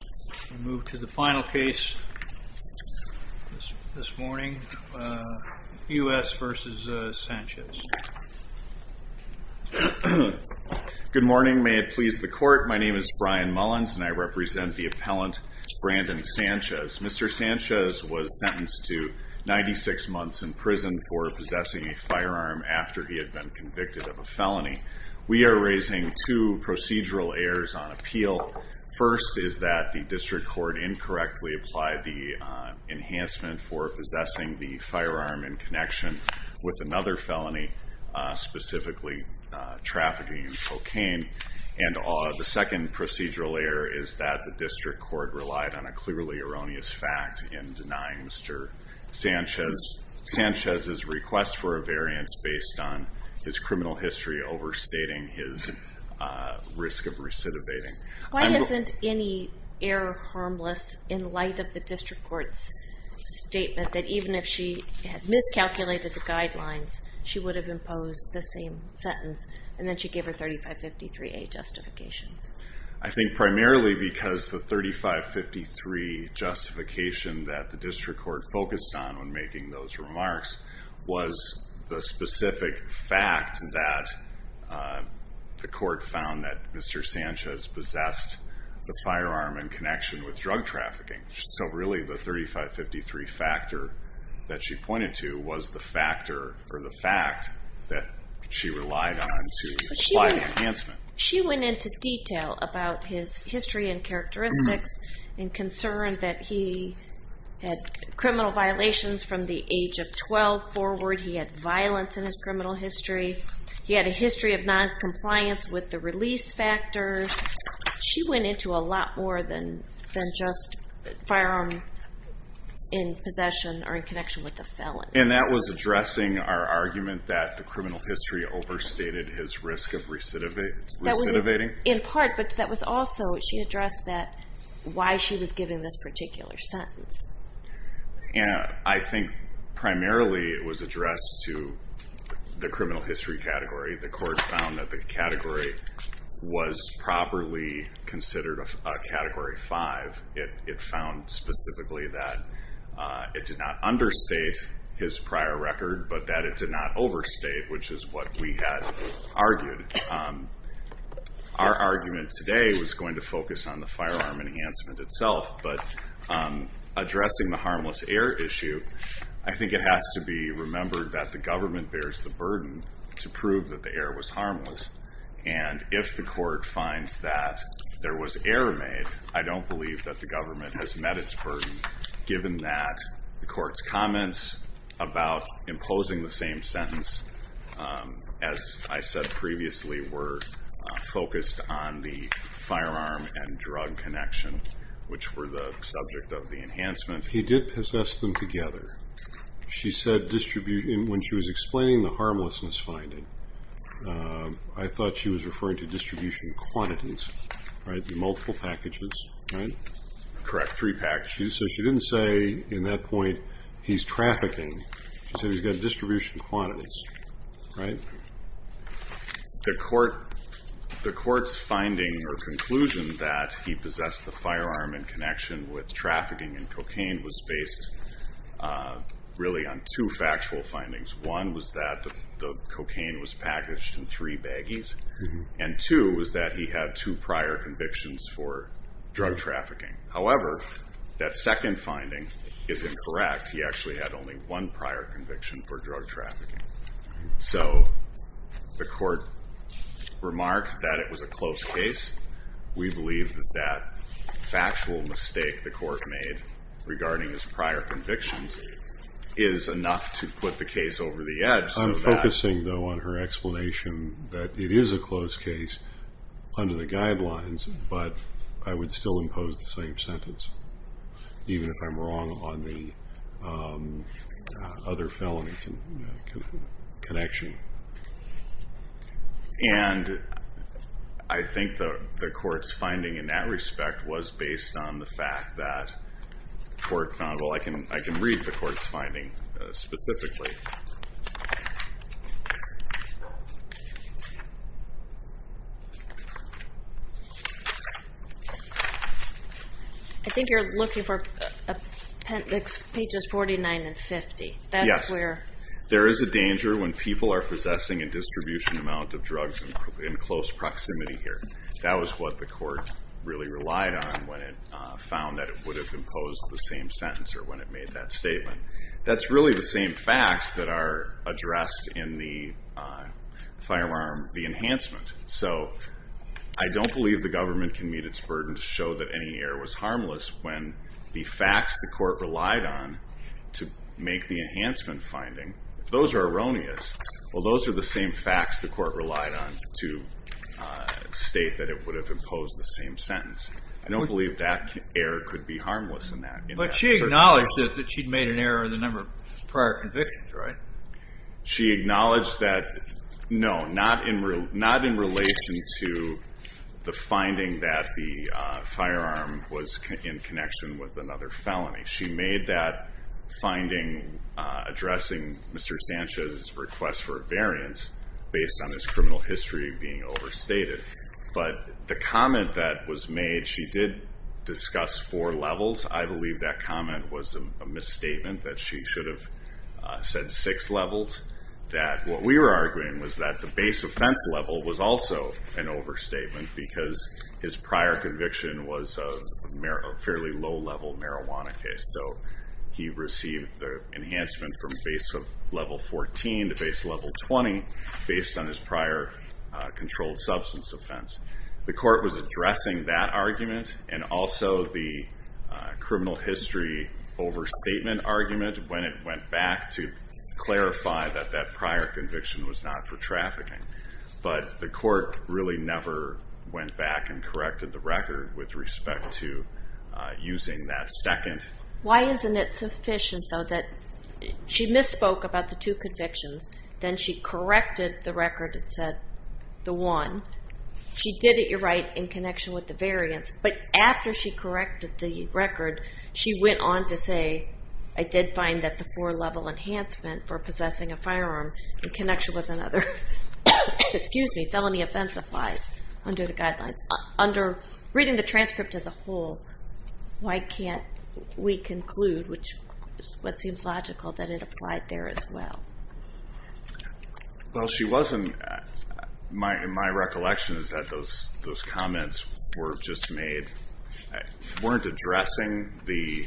Good morning, may it please the court, my name is Brian Mullins and I represent the appellant Brandon Sanchez. Mr. Sanchez was sentenced to 96 months in prison for possessing a firearm after he had been convicted of a felony. We are raising two points. One is that the district court incorrectly applied the enhancement for possessing the firearm in connection with another felony, specifically trafficking in cocaine. And the second procedural error is that the district court relied on a clearly erroneous fact in denying Mr. Sanchez. Sanchez's request for a variance based on his criminal history overstating his risk of possession of a firearm was a clear and harmless error in light of the district court's statement that even if she had miscalculated the guidelines, she would have imposed the same sentence and then she gave her 3553A justifications. I think primarily because the 3553 justification that the district court focused on when making those remarks was the specific fact that the court found that Mr. Sanchez possessed the firearm in connection with drug trafficking. So really the 3553 factor that she pointed to was the factor or the fact that she relied on to apply the enhancement. She went into detail about his history and characteristics and concerns that he had criminal violations from the age of 12 forward. He had violence in his criminal history. He had a history of noncompliance with the release factors. She went into a lot more than just firearm in possession or in connection with the felon. And that was addressing our argument that the criminal history overstated his risk of recidivating? In part, but that was also she addressed that why she was giving this particular sentence. And I think primarily it was addressed to the criminal history category. The court found that the category was properly considered a category five. It found specifically that it did not understate his prior record, but that it did not overstate, which is what we had argued. Our argument today was going to focus on the firearm enhancement itself, but addressing the harmless air issue, I think it has to be remembered that the government bears the burden to prove that the air was harmless. And if the court finds that there was error made, I don't believe that the government has met its burden, given that the court's comments about imposing the same sentence, as I said previously, were focused on the firearm and drug connection, which were the subject of the enhancement. He did possess them together. When she was explaining the harmlessness finding, I thought she was referring to distribution quantities, right? The multiple packages, right? Correct, three packages. So she didn't say in that point, he's trafficking. She said he's got distribution quantities, right? The court's finding or conclusion that he possessed the firearm in connection with trafficking in cocaine was based really on two factual findings. One was that the cocaine was packaged in three baggies, and two was that he had two prior convictions for drug trafficking. However, that second finding is incorrect. He actually had only one prior conviction for drug trafficking. So the court remarked that it was a close case. We believe that that factual mistake the court made regarding his prior convictions is enough to put the case over the edge. I'm focusing, though, on her explanation that it is a close case under the guidelines, but I would still impose the same sentence, even if I'm wrong on the other felony connection. And I think the court's finding in that respect was based on the fact that the court found, well, I can read the court's finding specifically. I think you're looking for pages 49 and 50. Yes. There is a danger when people are possessing a distribution amount of drugs in close proximity here. That was what the court really relied on when it found that it would have imposed the same sentence or when it made that statement. That's really the same facts that are addressed in the firearm, the enhancement. So I don't believe the government can meet its burden to show that any error was harmless when the facts the court relied on to make the enhancement finding, if those are erroneous, well, those are the same facts the court relied on to state that it would have imposed the same sentence. I don't believe that error could be harmless in that circumstance. But she acknowledged that she'd made an error in the number of prior convictions, right? She acknowledged that, no, not in relation to the finding that the firearm was in connection with another felony. She made that finding addressing Mr. Sanchez's request for a variance based on his criminal history being overstated. But the comment that was made, she did discuss four levels. I believe that comment was a misstatement that she should have said six levels, that what we were arguing was that the base offense level was also an overstatement because his prior conviction was a fairly low level marijuana case. So he received the enhancement from base level 14 to base level 20 based on his prior controlled substance offense. The court was addressing that argument and also the criminal history overstatement argument when it went back to clarify that that prior conviction was not for trafficking. But the court really never went back and corrected the record with respect to using that second. Why isn't it sufficient, though, that she misspoke about the two convictions, then she corrected the record that said the one. She did it, you're right, in connection with the variance. But after she corrected the record, she went on to say, I did find that the four level enhancement for possessing a firearm in connection with another felony offense applies under the guidelines. Reading the transcript as a whole, why can't we conclude, which is what seems logical, that it applied there as well? Well, my recollection is that those comments were just made, weren't addressing the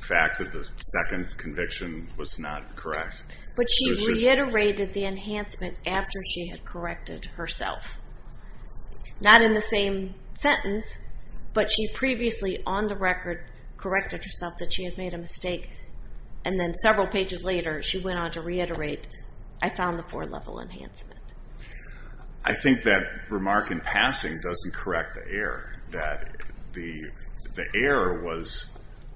fact that the second conviction was not correct. But she reiterated the enhancement after she had corrected herself. Not in the same sentence, but she previously on the record corrected herself that she had made a mistake. And then several pages later, she went on to reiterate, I found the four level enhancement. I think that remark in passing doesn't correct the error, that the error was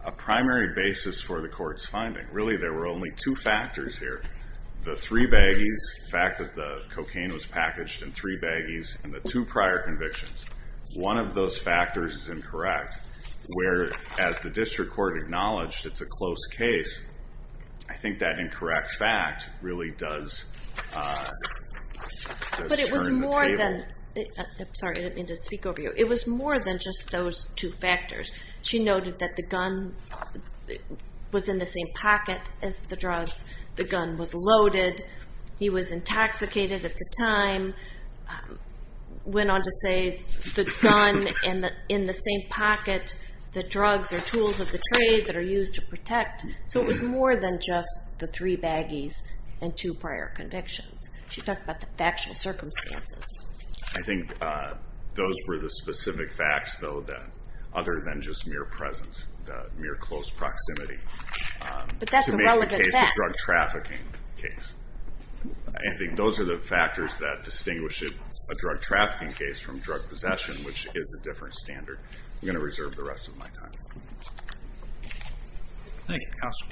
a primary basis for the court's finding. Really, there were only two factors here. The three baggies, the fact that the cocaine was packaged in three baggies, and the two prior convictions. One of those factors is incorrect, where, as the district court acknowledged, it's a close case. I think that incorrect fact really does turn the table. But it was more than, sorry, I didn't mean to speak over you. It was more than just those two factors. She noted that the gun was in the same pocket as the drugs. The gun was loaded. He was intoxicated at the time. Went on to say, the gun in the same pocket. The drugs are tools of the trade that are used to protect. So it was more than just the three baggies and two prior convictions. She talked about the factual circumstances. I think those were the specific facts, though, that other than just mere presence, the mere close proximity. But that's a relevant fact. To make the case a drug trafficking case. I think those are the factors that distinguish a drug trafficking case from drug possession, which is a different standard. I'm going to reserve the rest of my time. Thank you, counsel.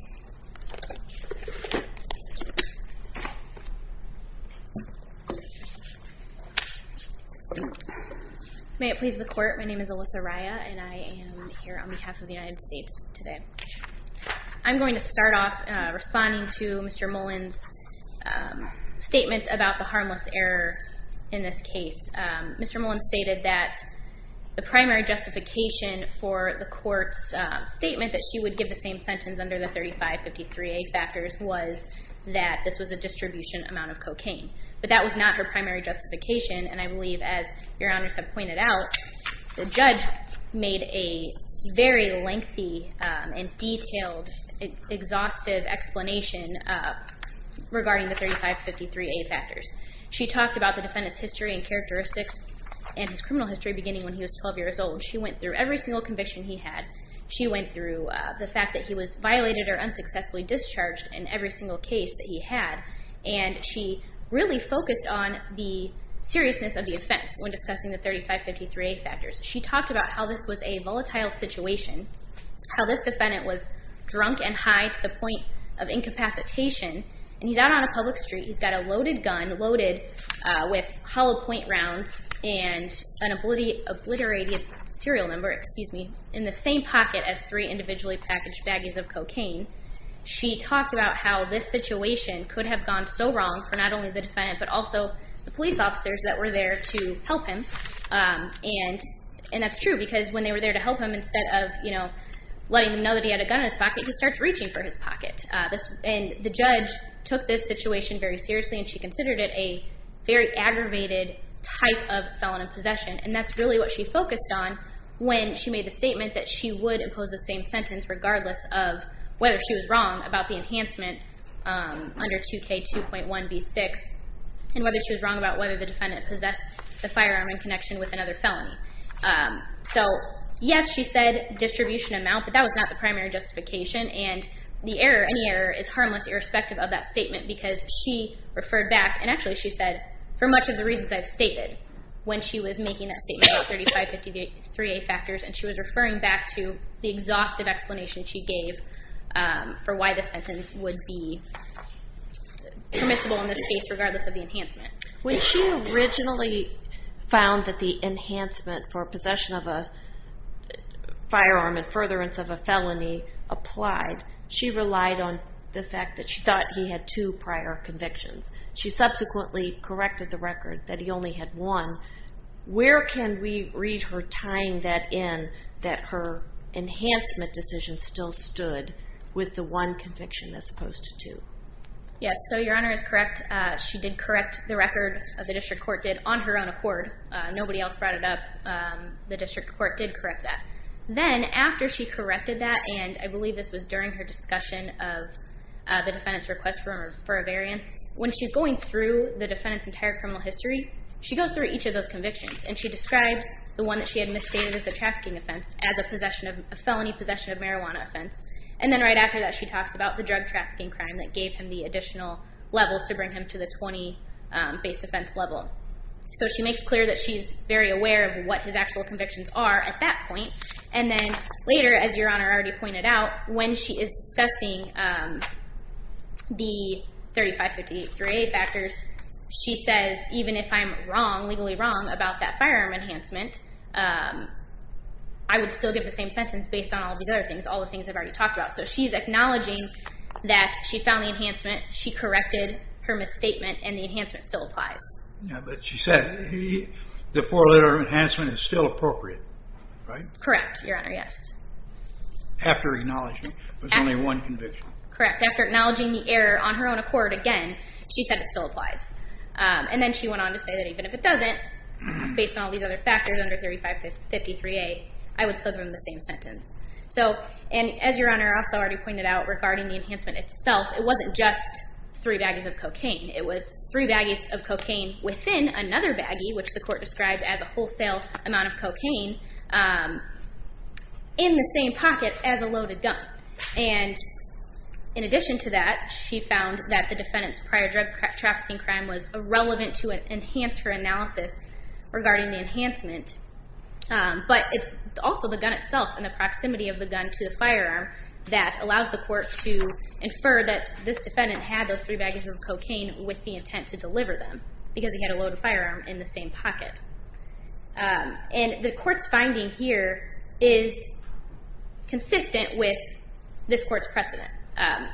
May it please the court. My name is Alyssa Raya, and I am here on behalf of the United States today. I'm going to start off responding to Mr. Mullen's statements about the harmless error in this case. Mr. Mullen stated that the primary justification for the court's statement that she would give the same sentence under the 3553A factors was that this was a distribution amount of cocaine. But that was not her primary justification, and I believe, as your honors have pointed out, the judge made a very lengthy and detailed, exhaustive explanation regarding the 3553A factors. She talked about the defendant's history and characteristics and his criminal history beginning when he was 12 years old. She went through every single conviction he had. She went through the fact that he was violated or unsuccessfully discharged in every single case that he had. And she really focused on the seriousness of the offense when discussing the 3553A factors. She talked about how this was a volatile situation, how this defendant was drunk and high to the point of incapacitation. And he's out on a public street. He's got a loaded gun loaded with hollow point rounds and an obliterated serial number in the same pocket as three individually packaged baggies of cocaine. She talked about how this situation could have gone so wrong for not only the defendant but also the police officers that were there to help him. And that's true, because when they were there to help him, instead of letting them know that he had a gun in his pocket, he starts reaching for his pocket. And the judge took this situation very seriously, and she considered it a very aggravated type of felon in possession. And that's really what she focused on when she made the statement that she would impose the same sentence regardless of whether she was wrong about the enhancement under 2K2.1b6 and whether she was wrong about whether the defendant possessed the firearm in connection with another felony. So yes, she said distribution amount, but that was not the primary justification. And the error, any error, is harmless irrespective of that statement, because she referred back. And actually, she said, for much of the reasons I've stated, when she was making that statement about 3553A factors, and she was referring back to the exhaustive explanation she gave for why the sentence would be permissible in this case regardless of the enhancement. When she originally found that the enhancement for possession of a firearm and furtherance of a felony applied, she relied on the fact that she thought he had two prior convictions. She subsequently corrected the record that he only had one. Where can we read her tying that in, that her enhancement decision still stood with the one conviction as opposed to two? Yes, so Your Honor is correct. She did correct the record, the district court did, on her own accord. Nobody else brought it up. The district court did correct that. Then, after she corrected that, and I believe this was during her discussion of the defendant's request for a variance, when she's going through the defendant's entire criminal history, she goes through each of those convictions. And she describes the one that she had misstated as a trafficking offense as a felony possession of marijuana offense. And then right after that, she talks about the drug trafficking crime that gave him the additional levels to bring him to the 20 base offense level. So she makes clear that she's very aware of what his actual convictions are at that point. And then later, as Your Honor already pointed out, when she is discussing the 3558-3A factors, she says, even if I'm wrong, legally wrong, about that firearm enhancement, I would still give the same sentence based on all these other things, all the things I've already talked about. So she's acknowledging that she found the enhancement, she corrected her misstatement, and the enhancement still applies. But she said the four-letter enhancement is still appropriate, right? Correct, Your Honor, yes. After acknowledging there's only one conviction. Correct. After acknowledging the error on her own accord again, she said it still applies. And then she went on to say that even if it doesn't, based on all these other factors under 3553-A, I would still give him the same sentence. So, and as Your Honor also already pointed out regarding the enhancement itself, it wasn't just three baggies of cocaine. It was three baggies of cocaine within another baggie, which the court described as a wholesale amount of cocaine, in the same pocket as a loaded gun. And in addition to that, she found that the defendant's prior drug trafficking crime was irrelevant to enhance her analysis regarding the enhancement. But it's also the gun itself and the proximity of the gun to the firearm that allows the court to infer that this defendant had those three baggies of cocaine with the intent to deliver them, because he had a loaded firearm in the same pocket. And the court's finding here is consistent with this court's precedent.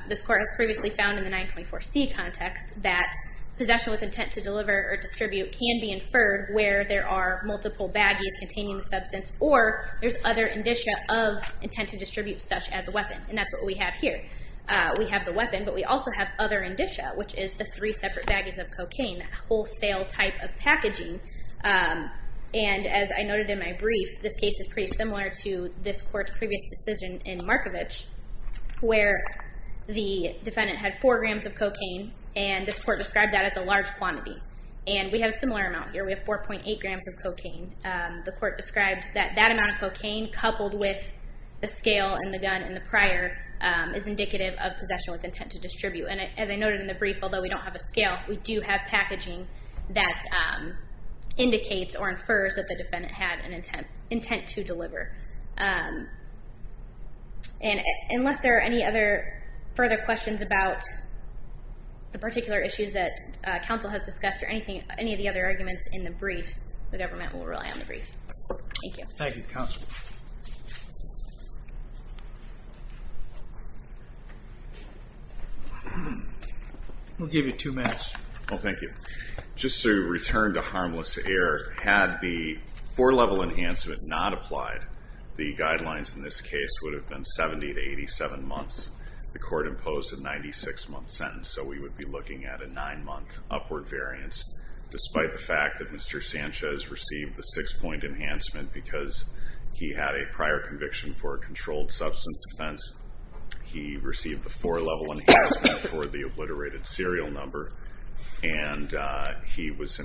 This court has previously found in the 924C context that possession with intent to deliver or distribute can be inferred where there are multiple baggies containing the substance or there's other indicia of intent to distribute such as a weapon. And that's what we have here. We have the weapon, but we also have other indicia, which is the three separate baggies of cocaine, that wholesale type of packaging. And as I noted in my brief, this case is pretty similar to this court's previous decision in Markovich, where the defendant had four grams of cocaine and this court described that as a large quantity. And we have a similar amount here. We have 4.8 grams of cocaine. The court described that that amount of cocaine coupled with the scale and the gun and the prior is indicative of possession with intent to distribute. And as I noted in the brief, although we don't have a scale, we do have packaging that indicates or infers that the defendant had an intent to deliver. And unless there are any other further questions about the particular issues that counsel has discussed or any of the other arguments in the briefs, the government will rely on the brief. Thank you. Thank you, counsel. Thank you. We'll give you two minutes. Oh, thank you. Just to return to harmless error, had the four-level enhancement not applied, the guidelines in this case would have been 70 to 87 months. The court imposed a 96-month sentence, so we would be looking at a nine-month upward variance, despite the fact that Mr. Sanchez received the six-point enhancement because he had a prior conviction for a controlled substance offense, he received the four-level enhancement for the obliterated serial number, and he was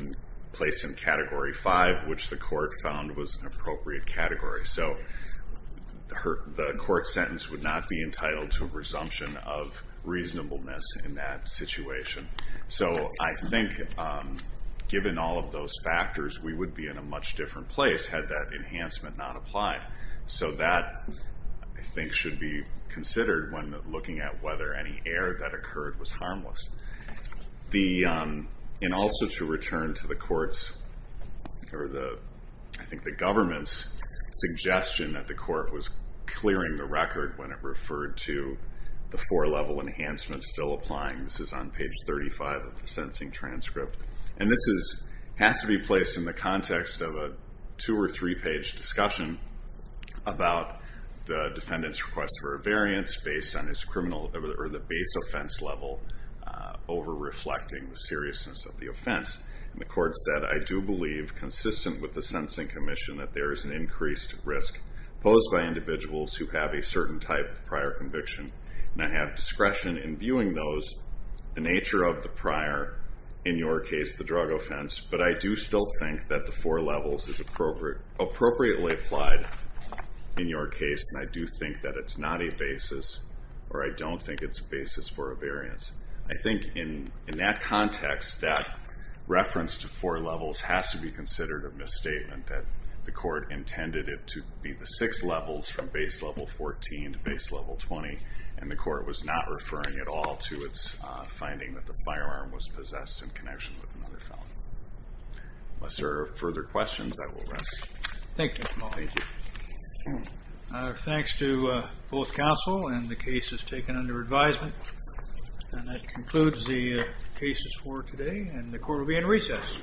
placed in Category 5, which the court found was an appropriate category. So the court sentence would not be entitled to a resumption of reasonableness in that situation. So I think, given all of those factors, we would be in a much different place had that enhancement not applied. So that, I think, should be considered when looking at whether any error that occurred was harmless. And also to return to the court's, or I think the government's, suggestion that the court was clearing the record when it referred to the four-level enhancement still applying. This is on page 35 of the sentencing transcript. And this has to be placed in the context of a two- or three-page discussion about the defendant's request for a variance based on the base offense level over reflecting the seriousness of the offense. And the court said, I do believe, consistent with the sentencing commission, that there is an increased risk posed by individuals who have a certain type of prior conviction, and I have discretion in viewing those, the nature of the prior, in your case, the drug offense, but I do still think that the four levels is appropriately applied in your case, and I do think that it's not a basis, or I don't think it's a basis for a variance. I think in that context, that reference to four levels has to be considered a misstatement that the court intended it to be the six levels from base level 14 to base level 20, and the court was not referring at all to its finding that the firearm was possessed in connection with another felon. Unless there are further questions, I will rest. Thank you, Mr. Mullaney. Our thanks to both counsel and the cases taken under advisement. And that concludes the cases for today, and the court will be in recess. Thank you. Thank you.